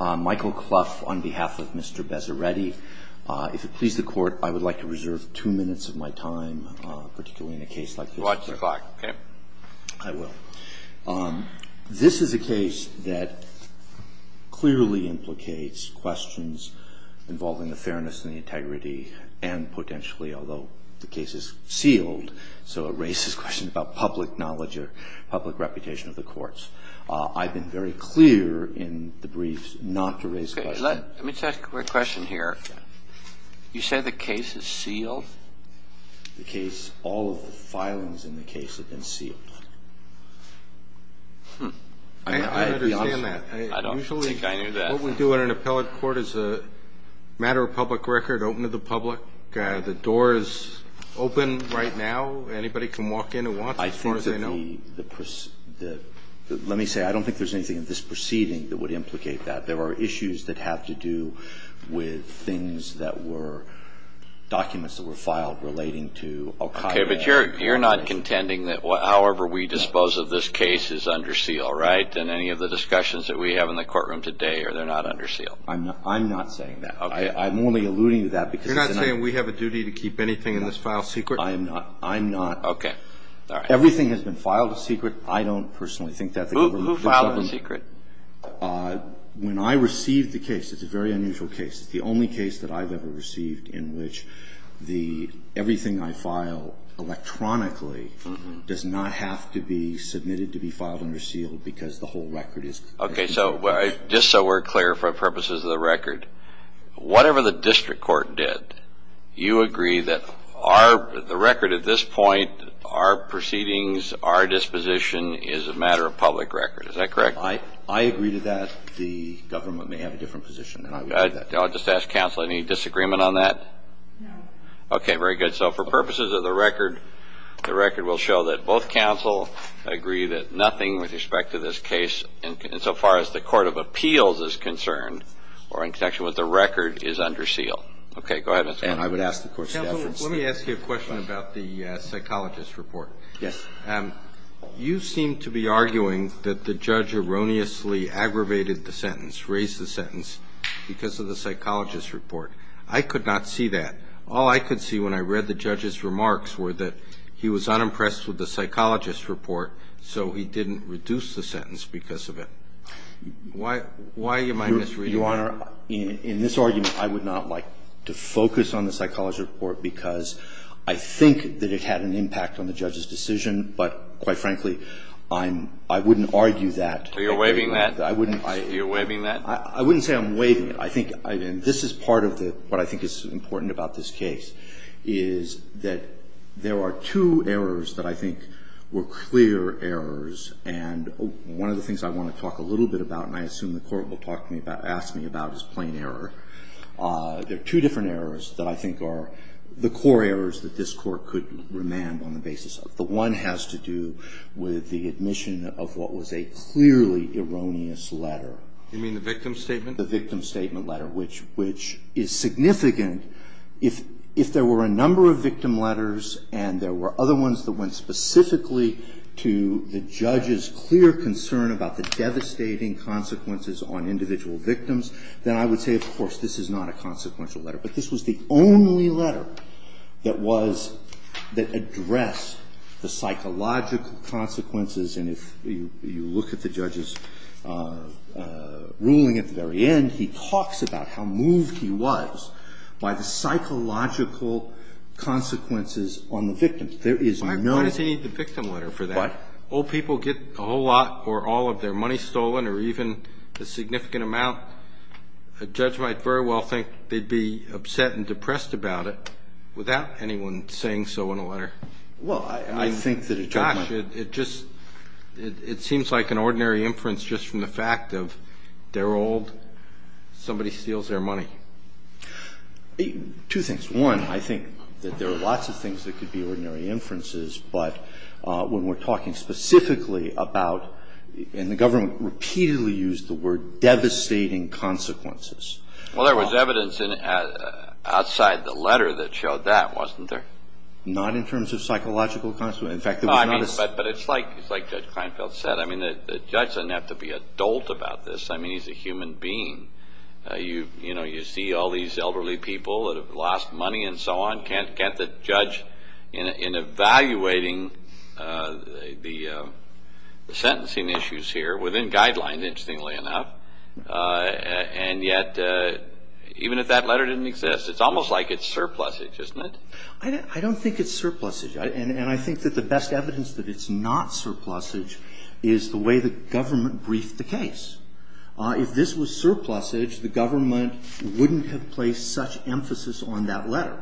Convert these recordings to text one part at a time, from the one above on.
Michael Clough on behalf of Mr. Bezeredi. If it pleases the court, I would like to reserve two minutes of my time, particularly in a case like this. Watch the clock, okay? I will. This is a case that clearly implicates questions involving the fairness and the integrity and potentially, although the case is sealed, so it raises questions about public knowledge or public reputation of the courts. I've been very clear in the briefs not to raise questions. Let me just ask a quick question here. You say the case is sealed? The case, all of the filings in the case have been sealed. I understand that. I don't think I knew that. What we do in an appellate court is a matter of public record, open to the public. The door is open right now. Anybody can walk in who wants, as far as I know. Let me say, I don't think there's anything in this proceeding that would implicate that. There are issues that have to do with things that were documents that were filed relating to al-Qaida. Okay, but you're not contending that however we dispose of this case is under seal, right, in any of the discussions that we have in the courtroom today, or they're not under seal? I'm not saying that. Okay. I'm only alluding to that because it's a matter of public record. You're not saying we have a duty to keep anything in this file secret? I'm not. I'm not. Okay. All right. Everything has been filed a secret. I don't personally think that the government does that. Who filed the secret? When I received the case, it's a very unusual case. It's the only case that I've ever received in which the – everything I file electronically does not have to be submitted to be filed under seal because the whole record is – Okay. So just so we're clear for purposes of the record, whatever the district court did, you agree that our – the record at this point, our proceedings, our disposition, is a matter of public record. Is that correct? I agree to that. The government may have a different position, and I would agree to that. I'll just ask counsel, any disagreement on that? No. Okay. Very good. So for purposes of the record, the record will show that both counsel agree that nothing with respect to this case, insofar as the court of appeals is concerned, or in connection with the record, is under seal. Okay. Go ahead. And I would ask the court staff – Counsel, let me ask you a question about the psychologist report. Yes. You seem to be arguing that the judge erroneously aggravated the sentence, raised the sentence, because of the psychologist report. I could not see that. All I could see when I read the judge's remarks were that he was unimpressed with the psychologist report, so he didn't reduce the sentence because of it. Why am I misreading that? Your Honor, in this argument, I would not like to focus on the psychologist report because I think that it had an impact on the judge's decision, but, quite frankly, I'm – I wouldn't argue that. So you're waiving that? I wouldn't – You're waiving that? I wouldn't say I'm waiving it. I think – and this is part of the – what I think is important about this case is that there are two errors that I think were clear errors, and one of the things I want to talk a little bit about, and I assume the Court will talk to me about – ask me about, is plain error. There are two different errors that I think are the core errors that this Court could remand on the basis of. The one has to do with the admission of what was a clearly erroneous letter. You mean the victim statement? The victim statement letter, which is significant. If there were a number of victim letters and there were other ones that went specifically to the judge's clear concern about the devastating consequences on individual victims, then I would say, of course, this is not a consequential letter. But this was the only letter that was – that addressed the psychological consequences. And if you look at the judge's ruling at the very end, he talks about how moved he was by the psychological consequences on the victim. There is no – Why does he need the victim letter for that? What? Old people get a whole lot or all of their money stolen or even a significant amount. A judge might very well think they'd be upset and depressed about it without anyone saying so in a letter. Well, I think that a judge might. Gosh, it just – it seems like an ordinary inference just from the fact of they're old, somebody steals their money. Two things. One, I think that there are lots of things that could be ordinary inferences. But when we're talking specifically about – and the government repeatedly used the word devastating consequences. Well, there was evidence outside the letter that showed that, wasn't there? Not in terms of psychological consequences. In fact, there was not a – But it's like Judge Kleinfeld said. I mean, the judge doesn't have to be adult about this. I mean, he's a human being. You see all these elderly people that have lost money and so on. Can't the judge, in evaluating the sentencing issues here within guidelines, interestingly enough, and yet even if that letter didn't exist, it's almost like it's surplusage, isn't it? I don't think it's surplusage. And I think that the best evidence that it's not surplusage is the way the government briefed the case. If this was surplusage, the government wouldn't have placed such emphasis on that letter.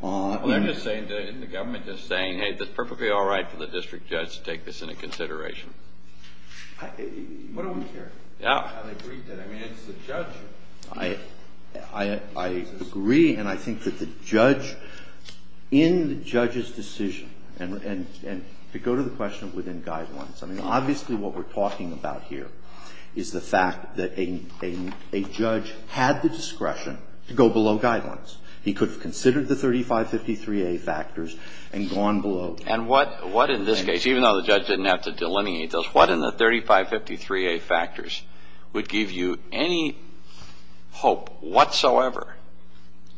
Well, they're just saying – the government just saying, hey, it's perfectly all right for the district judge to take this into consideration. I don't care how they briefed it. I mean, it's the judge. I agree. And I think that the judge, in the judge's decision, and to go to the question within guidelines, I mean, obviously what we're talking about here is the fact that a judge had the discretion to go below guidelines. He could have considered the 3553A factors and gone below. And what in this case, even though the judge didn't have to delineate those, what in the 3553A factors would give you any hope whatsoever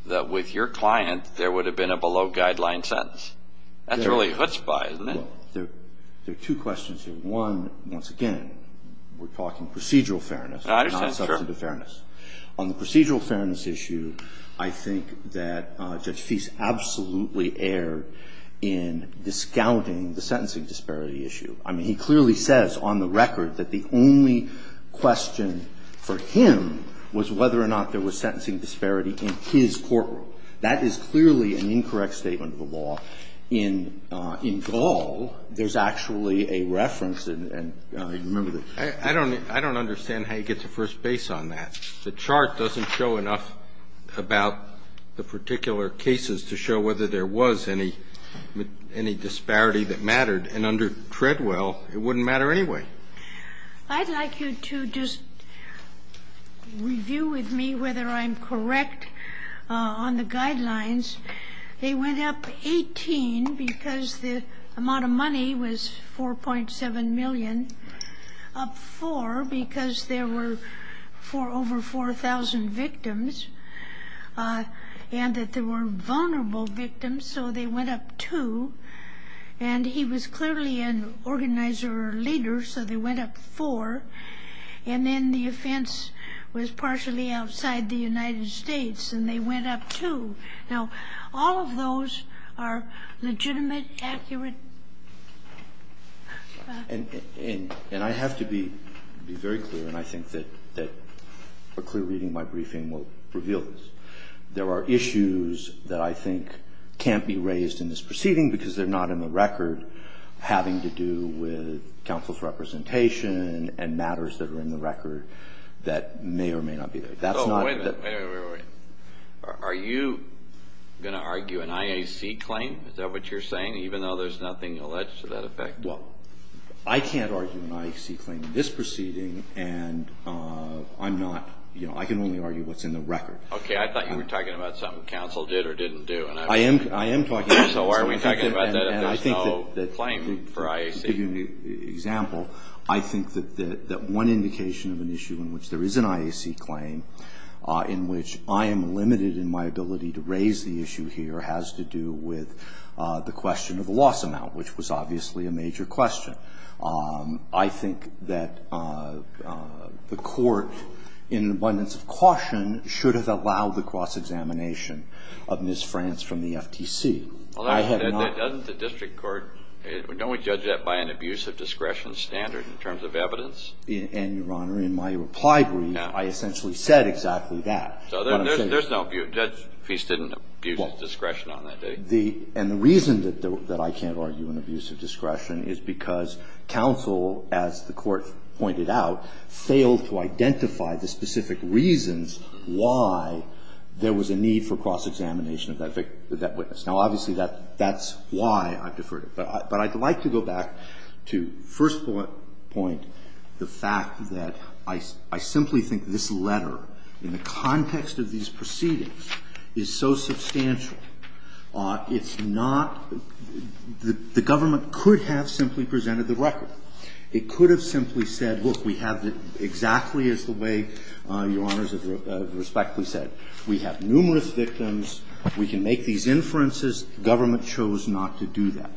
that with your client there would have been a below-guideline sentence? That's really a chutzpah, isn't it? Well, there are two questions here. One, once again, we're talking procedural fairness, not substantive fairness. I understand. Sure. On the procedural fairness issue, I think that Judge Feist absolutely erred in discounting the sentencing disparity issue. I mean, he clearly says on the record that the only question for him was whether or not there was sentencing disparity in his courtroom. That is clearly an incorrect statement of the law. In Gaul, there's actually a reference, and you remember the case. I don't understand how you get to first base on that. The chart doesn't show enough about the particular cases to show whether there was any disparity that mattered. And under Treadwell, it wouldn't matter anyway. I'd like you to just review with me whether I'm correct on the guidelines. They went up 18 because the amount of money was 4.7 million, up 4 because there were over 4,000 victims and that there were vulnerable victims. So they went up 2. And he was clearly an organizer or leader, so they went up 4. And then the offense was partially outside the United States, and they went up 2. Now, all of those are legitimate, accurate. And I have to be very clear, and I think that a clear reading of my briefing will reveal this. There are issues that I think can't be raised in this proceeding because they're not in the record having to do with counsel's representation and matters that are in the record that may or may not be there. That's not that the ---- Wait a minute. Are you going to argue an IAC claim? Is that what you're saying, even though there's nothing alleged to that effect? Well, I can't argue an IAC claim in this proceeding, and I'm not ---- I can only argue what's in the record. Okay, I thought you were talking about something counsel did or didn't do. I am talking about that. So are we talking about that if there's no claim for IAC? To give you an example, I think that one indication of an issue in which there is an IAC claim, in which I am limited in my ability to raise the issue here, has to do with the question of the loss amount, which was obviously a major question. I think that the Court, in abundance of caution, should have allowed the cross-examination of Ms. France from the FTC. I have not ---- Doesn't the district court ---- Don't we judge that by an abuse of discretion standard in terms of evidence? And, Your Honor, in my reply brief, I essentially said exactly that. So there's no abuse. Judge Feist didn't abuse discretion on that. And the reason that I can't argue an abuse of discretion is because counsel, as the Court pointed out, failed to identify the specific reasons why there was a need for cross-examination of that witness. Now, obviously, that's why I've deferred it. But I'd like to go back to first point, the fact that I simply think this letter in the context of these proceedings is so substantial. It's not ---- the government could have simply presented the record. It could have simply said, look, we have the ---- exactly as the way, Your Honors, have respectfully said. We have numerous victims. We can make these inferences. Government chose not to do that.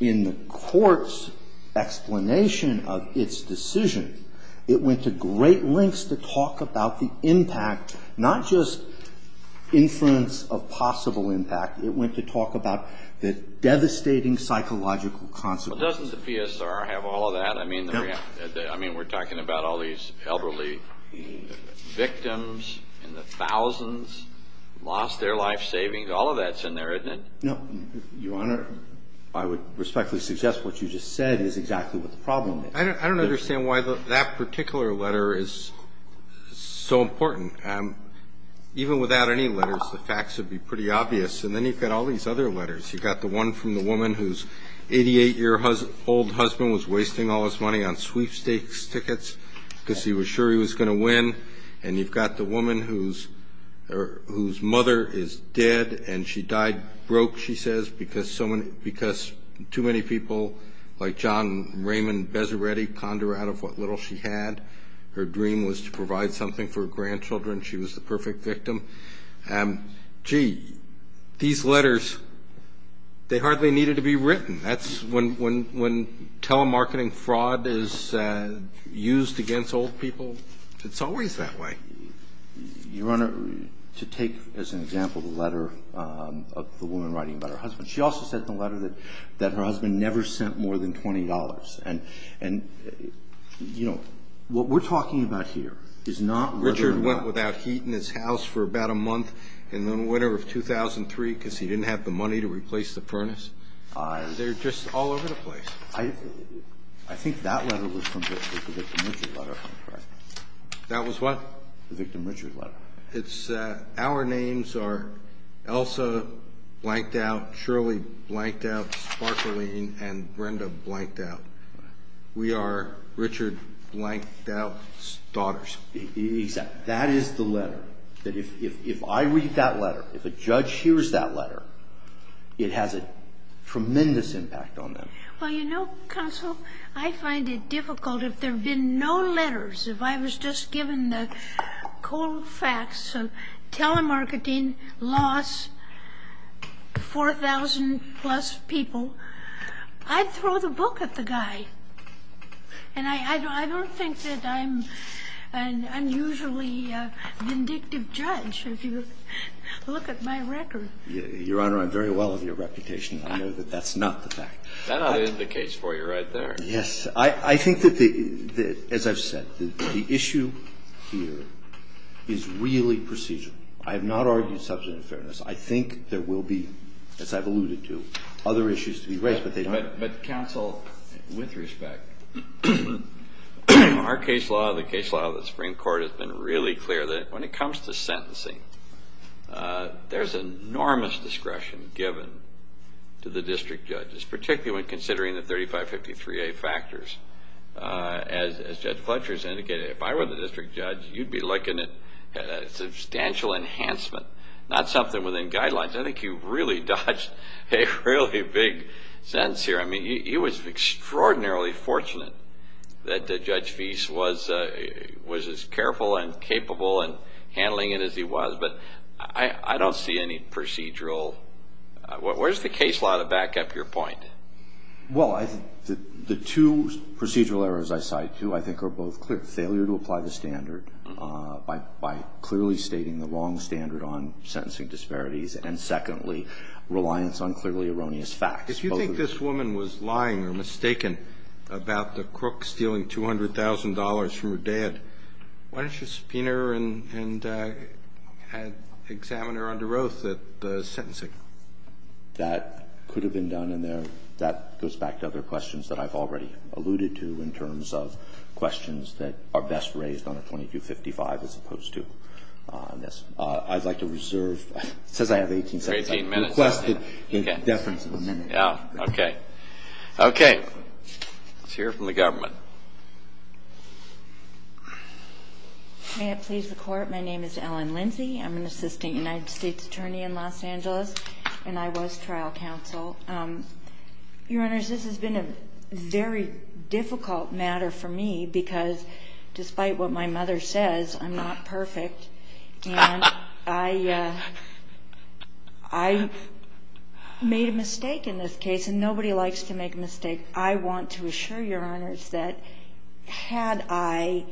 In the Court's explanation of its decision, it went to great lengths to talk about the impact, not just inference of possible impact. It went to talk about the devastating psychological consequences. Well, doesn't the PSR have all of that? No. I mean, we're talking about all these elderly victims and the thousands lost their life savings. All of that's in there, isn't it? No. Your Honor, I would respectfully suggest what you just said is exactly what the problem I don't understand why that particular letter is so important. Even without any letters, the facts would be pretty obvious. And then you've got all these other letters. You've got the one from the woman whose 88-year-old husband was wasting all his money on sweepstakes tickets because he was sure he was going to win. And you've got the woman whose mother is dead and she died broke, she says, because too many people like John Raymond Bezzeretti ponder out of what little she had. Her dream was to provide something for her grandchildren. She was the perfect victim. Gee, these letters, they hardly needed to be written. That's when telemarketing fraud is used against old people. It's always that way. Your Honor, to take, as an example, the letter of the woman writing about her husband. She also said in the letter that her husband never sent more than $20. And, you know, what we're talking about here is not whether or not ---- Richard went without heat in his house for about a month in the winter of 2003 because he didn't have the money to replace the furnace? They're just all over the place. I think that letter was from Richard. That was what? The victim Richard letter. It's ---- our names are Elsa Blanked Out, Shirley Blanked Out, Sparkalene, and Brenda Blanked Out. We are Richard Blanked Out's daughters. Exactly. That is the letter. If I read that letter, if a judge hears that letter, it has a tremendous impact on them. Well, you know, counsel, I find it difficult if there have been no letters, if I was just given the cold facts of telemarketing, loss, 4,000-plus people, I'd throw the book at the guy. And I don't think that I'm an unusually vindictive judge if you look at my record. Your Honor, I'm very well of your reputation. I know that that's not the fact. That ought to end the case for you right there. Yes. I think that, as I've said, the issue here is really procedural. I have not argued substantive fairness. I think there will be, as I've alluded to, other issues to be raised, but they don't. But, counsel, with respect, our case law, the case law of the Supreme Court has been really clear that when it comes to sentencing, there's enormous discretion given to the district judges, particularly when considering the 3553A factors. As Judge Fletcher has indicated, if I were the district judge, you'd be looking at substantial enhancement, not something within guidelines. I think you've really dodged a really big sentence here. I mean, he was extraordinarily fortunate that Judge Fease was as careful and capable in handling it as he was, but I don't see any procedural. Where's the case law to back up your point? Well, the two procedural errors I cite, too, I think are both clear. Failure to apply the standard by clearly stating the wrong standard on sentencing disparities and, secondly, reliance on clearly erroneous facts. If you think this woman was lying or mistaken about the crook stealing $200,000 from her dad, why don't you subpoena her and examine her under oath at the sentencing? That could have been done in there. That goes back to other questions that I've already alluded to in terms of questions that are best raised on a 2255 as opposed to this. I'd like to reserve, it says I have 18 seconds. 18 minutes. Request the deference of a minute. Okay. Okay. Let's hear from the government. May it please the Court, my name is Ellen Lindsey. I'm an assistant United States attorney in Los Angeles, and I was trial counsel. Your Honors, this has been a very difficult matter for me because despite what my mother says, I'm not perfect, and I made a mistake in this case, and nobody likes to make a mistake. I want to assure Your Honors that had I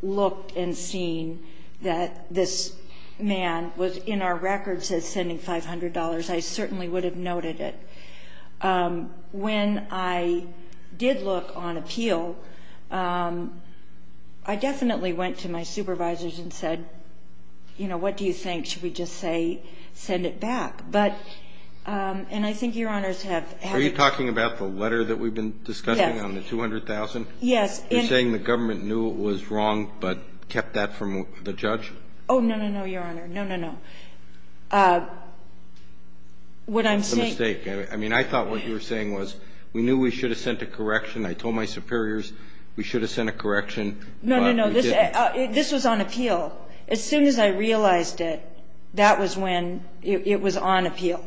looked and seen that this man was in our records as sending $500, I certainly would have noted it. When I did look on appeal, I definitely went to my supervisors and said, you know, what do you think, should we just say send it back? But, and I think Your Honors have had to. Are you talking about the letter that we've been discussing on the $200,000? Yes. You're saying the government knew it was wrong but kept that from the judge? Oh, no, no, no, Your Honor. No, no, no. What I'm saying. That's a mistake. I mean, I thought what you were saying was we knew we should have sent a correction. I told my superiors we should have sent a correction, but we didn't. No, no, no. This was on appeal. As soon as I realized it, that was when it was on appeal,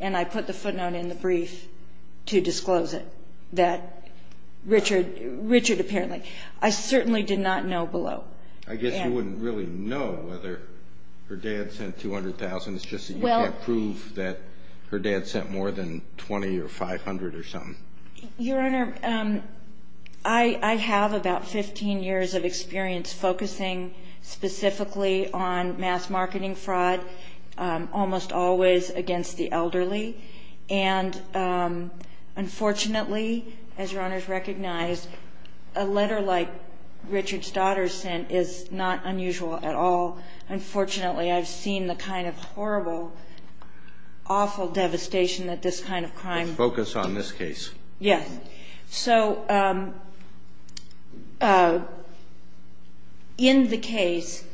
and I put the footnote in the brief to disclose it, that Richard apparently. I certainly did not know below. I guess you wouldn't really know whether her dad sent $200,000. It's just that you can't prove that her dad sent more than $20,000 or $500,000 or something. Your Honor, I have about 15 years of experience focusing specifically on mass marketing fraud, almost always against the elderly, and unfortunately, as Your Honor has recognized, a letter like Richard's daughter sent is not unusual at all. Unfortunately, I've seen the kind of horrible, awful devastation that this kind of crime. Focus on this case. Yes. So in the case,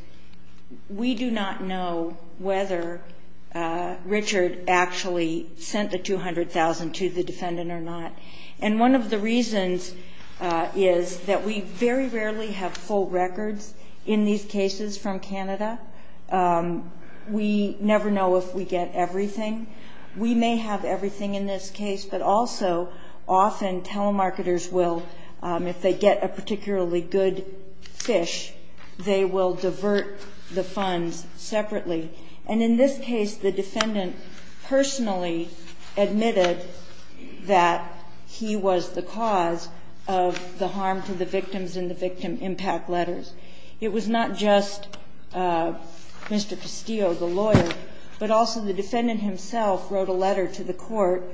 we do not know whether Richard actually sent the $200,000 to the defendant or not. And one of the reasons is that we very rarely have full records in these cases from Canada. We never know if we get everything. We may have everything in this case, but also often telemarketers will, if they get a particularly good fish, they will divert the funds separately. And in this case, the defendant personally admitted that he was the cause of the harm to the victims in the victim impact letters. It was not just Mr. Castillo, the lawyer, but also the defendant himself wrote a letter to the court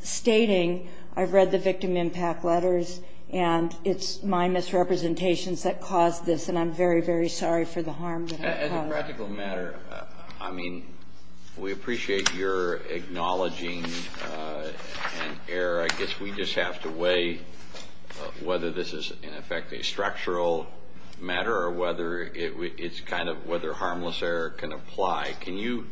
stating, I've read the victim impact letters and it's my misrepresentations that caused this, and I'm very, very sorry for the harm that I caused. As a practical matter, I mean, we appreciate your acknowledging an error. I guess we just have to weigh whether this is, in effect, a structural matter or whether it's kind of whether harmless error can apply. Can you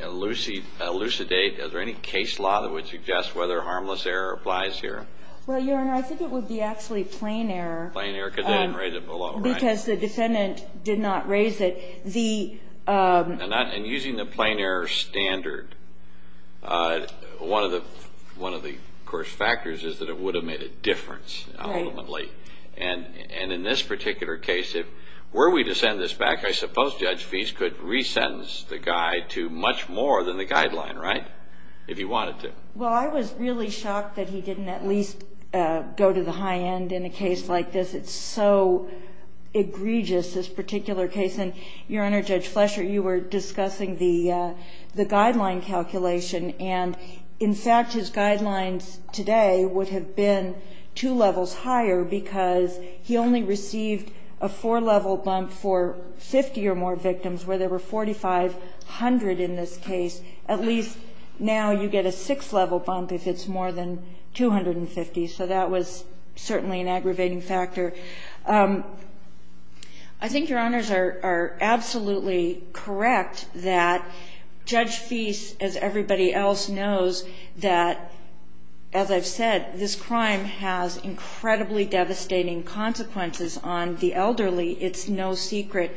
elucidate, is there any case law that would suggest whether harmless error applies here? Well, Your Honor, I think it would be actually plain error. Plain error because they didn't raise it below, right? Because the defendant did not raise it. And using the plain error standard, one of the, of course, factors is that it would have made a difference ultimately. And in this particular case, were we to send this back, I suppose Judge Feist could re-sentence the guy to much more than the guideline, right, if he wanted to. Well, I was really shocked that he didn't at least go to the high end in a case like this. It's so egregious, this particular case. And, Your Honor, Judge Flesher, you were discussing the guideline calculation. And, in fact, his guidelines today would have been two levels higher because he only received a four-level bump for 50 or more victims, where there were 4,500 in this case. At least now you get a six-level bump if it's more than 250. So that was certainly an aggravating factor. I think Your Honors are absolutely correct that Judge Feist, as everybody else knows, that, as I've said, this crime has incredibly devastating consequences on the elderly. It's no secret.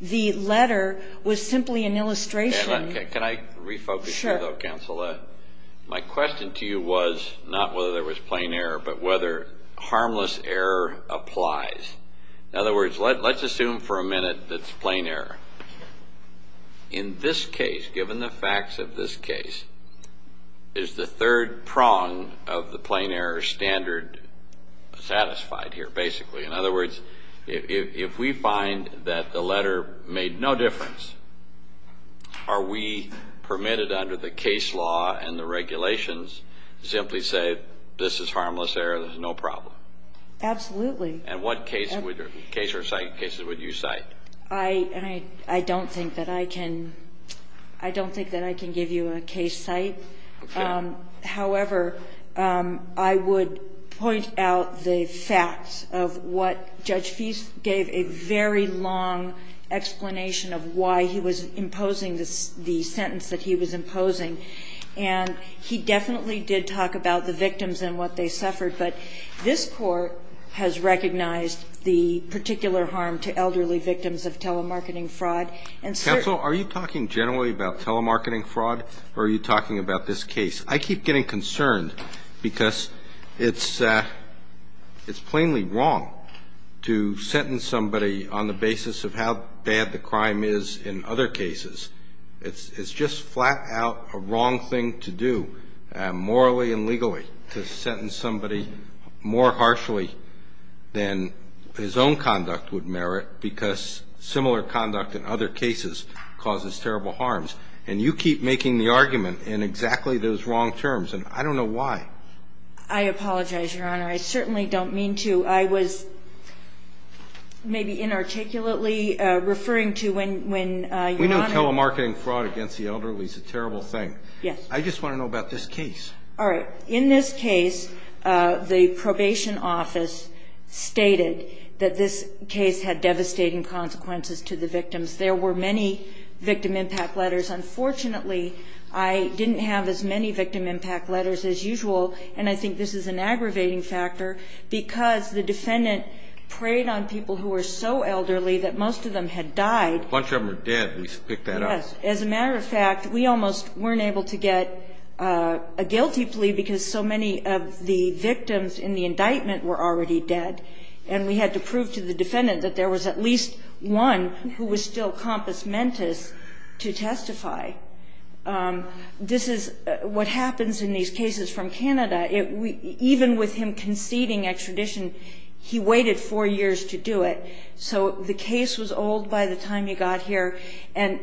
The letter was simply an illustration. Can I refocus here, though, Counsel? Sure. My question to you was not whether there was plain error, but whether harmless error applies. In other words, let's assume for a minute that it's plain error. In this case, given the facts of this case, is the third prong of the plain error standard satisfied here, basically? In other words, if we find that the letter made no difference, are we permitted under the case law and the regulations to simply say, this is harmless error, there's no problem? Absolutely. And what case or site cases would you cite? I don't think that I can give you a case site. Okay. However, I would point out the facts of what Judge Feist gave a very long explanation of why he was imposing the sentence that he was imposing. And he definitely did talk about the victims and what they suffered. But this Court has recognized the particular harm to elderly victims of telemarketing fraud. Counsel, are you talking generally about telemarketing fraud or are you talking about this case? I keep getting concerned because it's plainly wrong to sentence somebody on the basis of how bad the crime is in other cases. It's just flat out a wrong thing to do, morally and legally, to sentence somebody more harshly than his own conduct would merit, because similar conduct in other cases causes terrible harms. And you keep making the argument in exactly those wrong terms. And I don't know why. I apologize, Your Honor. I certainly don't mean to. I was maybe inarticulately referring to when Your Honor ---- We know telemarketing fraud against the elderly is a terrible thing. Yes. I just want to know about this case. All right. In this case, the probation office stated that this case had devastating consequences to the victims. There were many victim impact letters. Unfortunately, I didn't have as many victim impact letters as usual, and I think this is an aggravating factor because the defendant preyed on people who were so elderly that most of them had died. A bunch of them are dead. We should pick that up. Yes. As a matter of fact, we almost weren't able to get a guilty plea because so many of the victims in the indictment were already dead, and we had to prove to the defendant that there was at least one who was still compass mentis to testify. This is what happens in these cases from Canada. Even with him conceding extradition, he waited four years to do it. So the case was old by the time you got here, and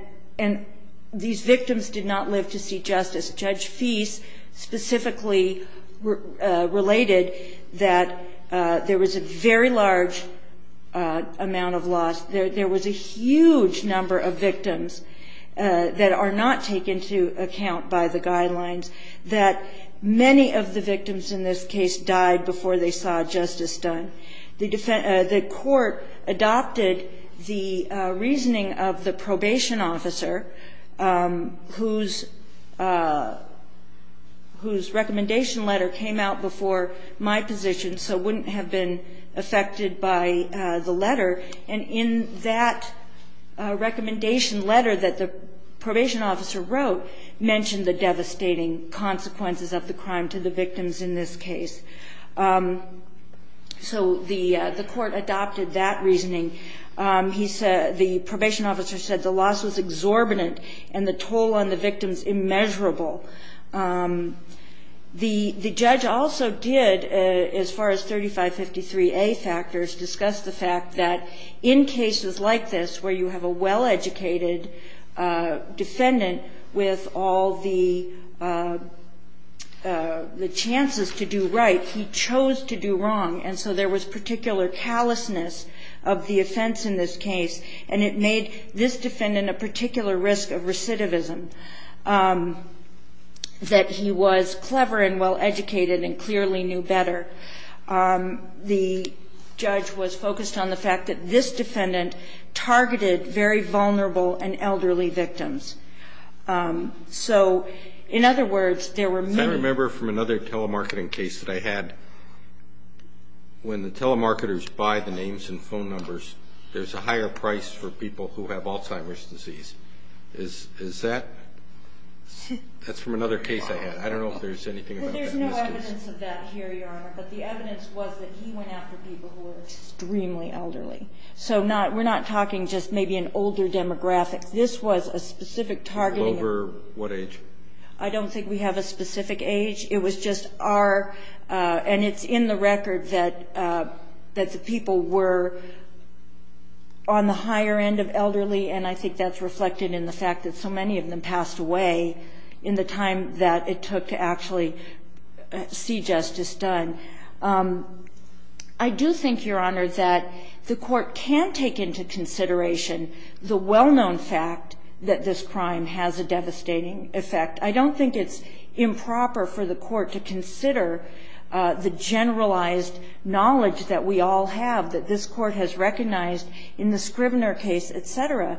these victims did not live to see justice. Judge Feist specifically related that there was a very large amount of loss. There was a huge number of victims that are not taken into account by the guidelines, that many of the victims in this case died before they saw justice done. The court adopted the reasoning of the probation officer, whose testimony was that whose recommendation letter came out before my position so wouldn't have been affected by the letter. And in that recommendation letter that the probation officer wrote mentioned the devastating consequences of the crime to the victims in this case. So the court adopted that reasoning. The probation officer said the loss was exorbitant and the toll on the victims was immeasurable. The judge also did, as far as 3553A factors, discuss the fact that in cases like this where you have a well-educated defendant with all the chances to do right, he chose to do wrong, and so there was particular callousness of the offense in this case, and it made this defendant a particular risk of recidivism, that he was clever and well-educated and clearly knew better. The judge was focused on the fact that this defendant targeted very vulnerable and elderly victims. So in other words, there were many of them. I remember from another telemarketing case that I had, when the telemarketers buy the names and phone numbers, there's a higher price for people who have Alzheimer's disease. Is that? That's from another case I had. I don't know if there's anything about that in this case. Well, there's no evidence of that here, Your Honor, but the evidence was that he went after people who were extremely elderly. So we're not talking just maybe an older demographic. This was a specific targeting. Over what age? I don't think we have a specific age. It was just our, and it's in the record, that the people were on the higher end of elderly, and I think that's reflected in the fact that so many of them passed away in the time that it took to actually see justice done. I do think, Your Honor, that the court can take into consideration the well-known fact that this crime has a devastating effect. I don't think it's improper for the court to consider the generalized knowledge that we all have, that this court has recognized in the Scribner case, et cetera,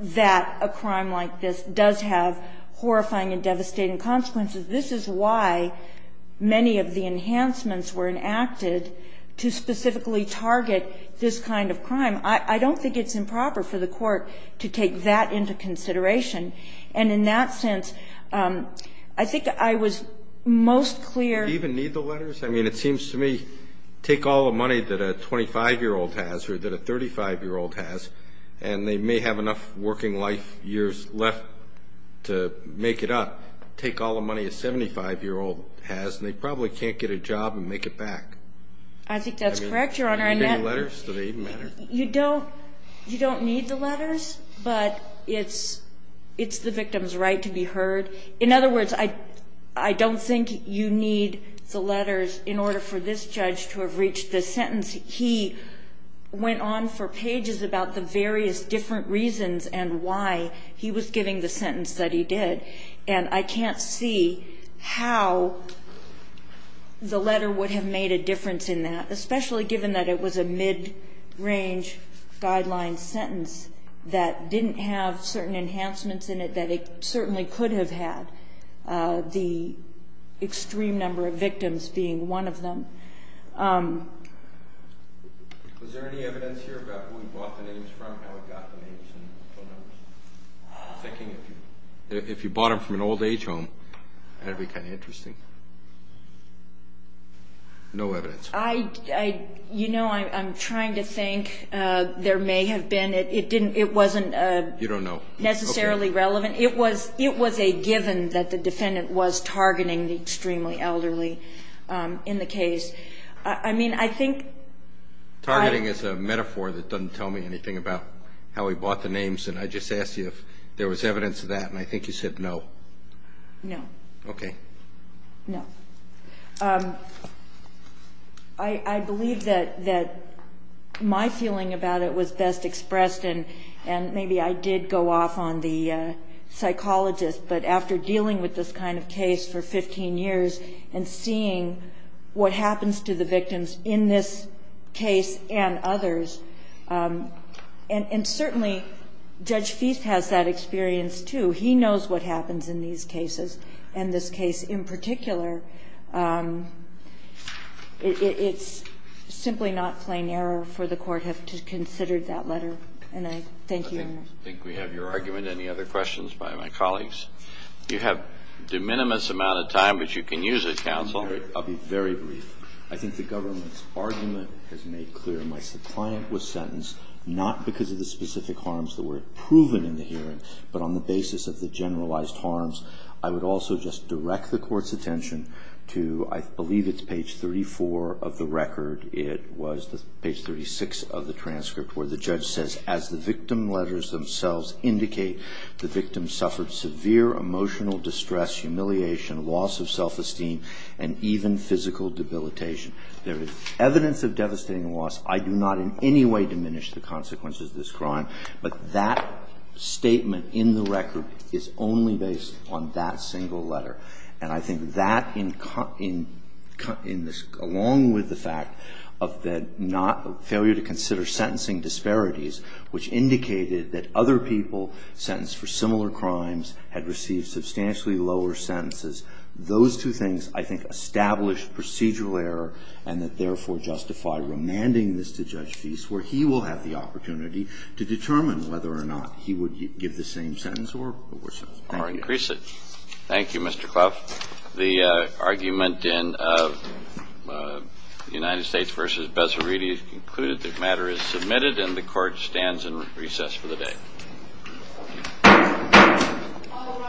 that a crime like this does have horrifying and devastating consequences. This is why many of the enhancements were enacted to specifically target this kind of crime. I don't think it's improper for the court to take that into consideration. And in that sense, I think I was most clear. Do you even need the letters? I mean, it seems to me, take all the money that a 25-year-old has or that a 35-year-old has, and they may have enough working life years left to make it up. Take all the money a 75-year-old has, and they probably can't get a job and make it back. I think that's correct, Your Honor. Do they even matter? You don't need the letters, but it's the victim's right to be heard. In other words, I don't think you need the letters in order for this judge to have reached the sentence. He went on for pages about the various different reasons and why he was giving the sentence that he did. And I can't see how the letter would have made a difference in that, especially given that it was a mid-range guideline sentence that didn't have certain enhancements in it that it certainly could have had, the extreme number of victims being one of them. Was there any evidence here about who he bought the names from and how he got the names and phone numbers? I'm thinking if you bought them from an old-age home, that would be kind of interesting. No evidence. You know, I'm trying to think. There may have been. It wasn't necessarily relevant. It was a given that the defendant was targeting the extremely elderly in the case. Targeting is a metaphor that doesn't tell me anything about how he bought the names, and I just asked you if there was evidence of that, and I think you said no. No. Okay. No. I believe that my feeling about it was best expressed, and maybe I did go off on the psychologist, but after dealing with this kind of case for 15 years and seeing what happens to the victims in this case and others, and certainly Judge Feist has that experience, too. He knows what happens in these cases, and this case in particular, it's simply not plain error for the Court to have considered that letter. And I thank you, Your Honor. I think we have your argument. Any other questions by my colleagues? You have a de minimis amount of time, but you can use it, counsel. I'll be very brief. I think the government's argument has made clear. My client was sentenced not because of the specific harms that were proven in the case of the generalized harms. I would also just direct the Court's attention to, I believe it's page 34 of the record. It was page 36 of the transcript where the judge says, as the victim letters themselves indicate, the victim suffered severe emotional distress, humiliation, loss of self-esteem, and even physical debilitation. There is evidence of devastating loss. I do not in any way diminish the consequences of this crime, but that statement in the record is only based on that single letter. And I think that, along with the fact of the failure to consider sentencing disparities, which indicated that other people sentenced for similar crimes had received substantially lower sentences, those two things, I think, established procedural error and that, therefore, justify remanding this to Judge Feist, where he will have the opportunity to determine whether or not he would give the same sentence or worse sentence. Thank you. Thank you, Mr. Clough. The argument in United States v. Bezzariti has concluded. The matter is submitted, and the Court stands in recess for the day. All rise. The Court stands in recess.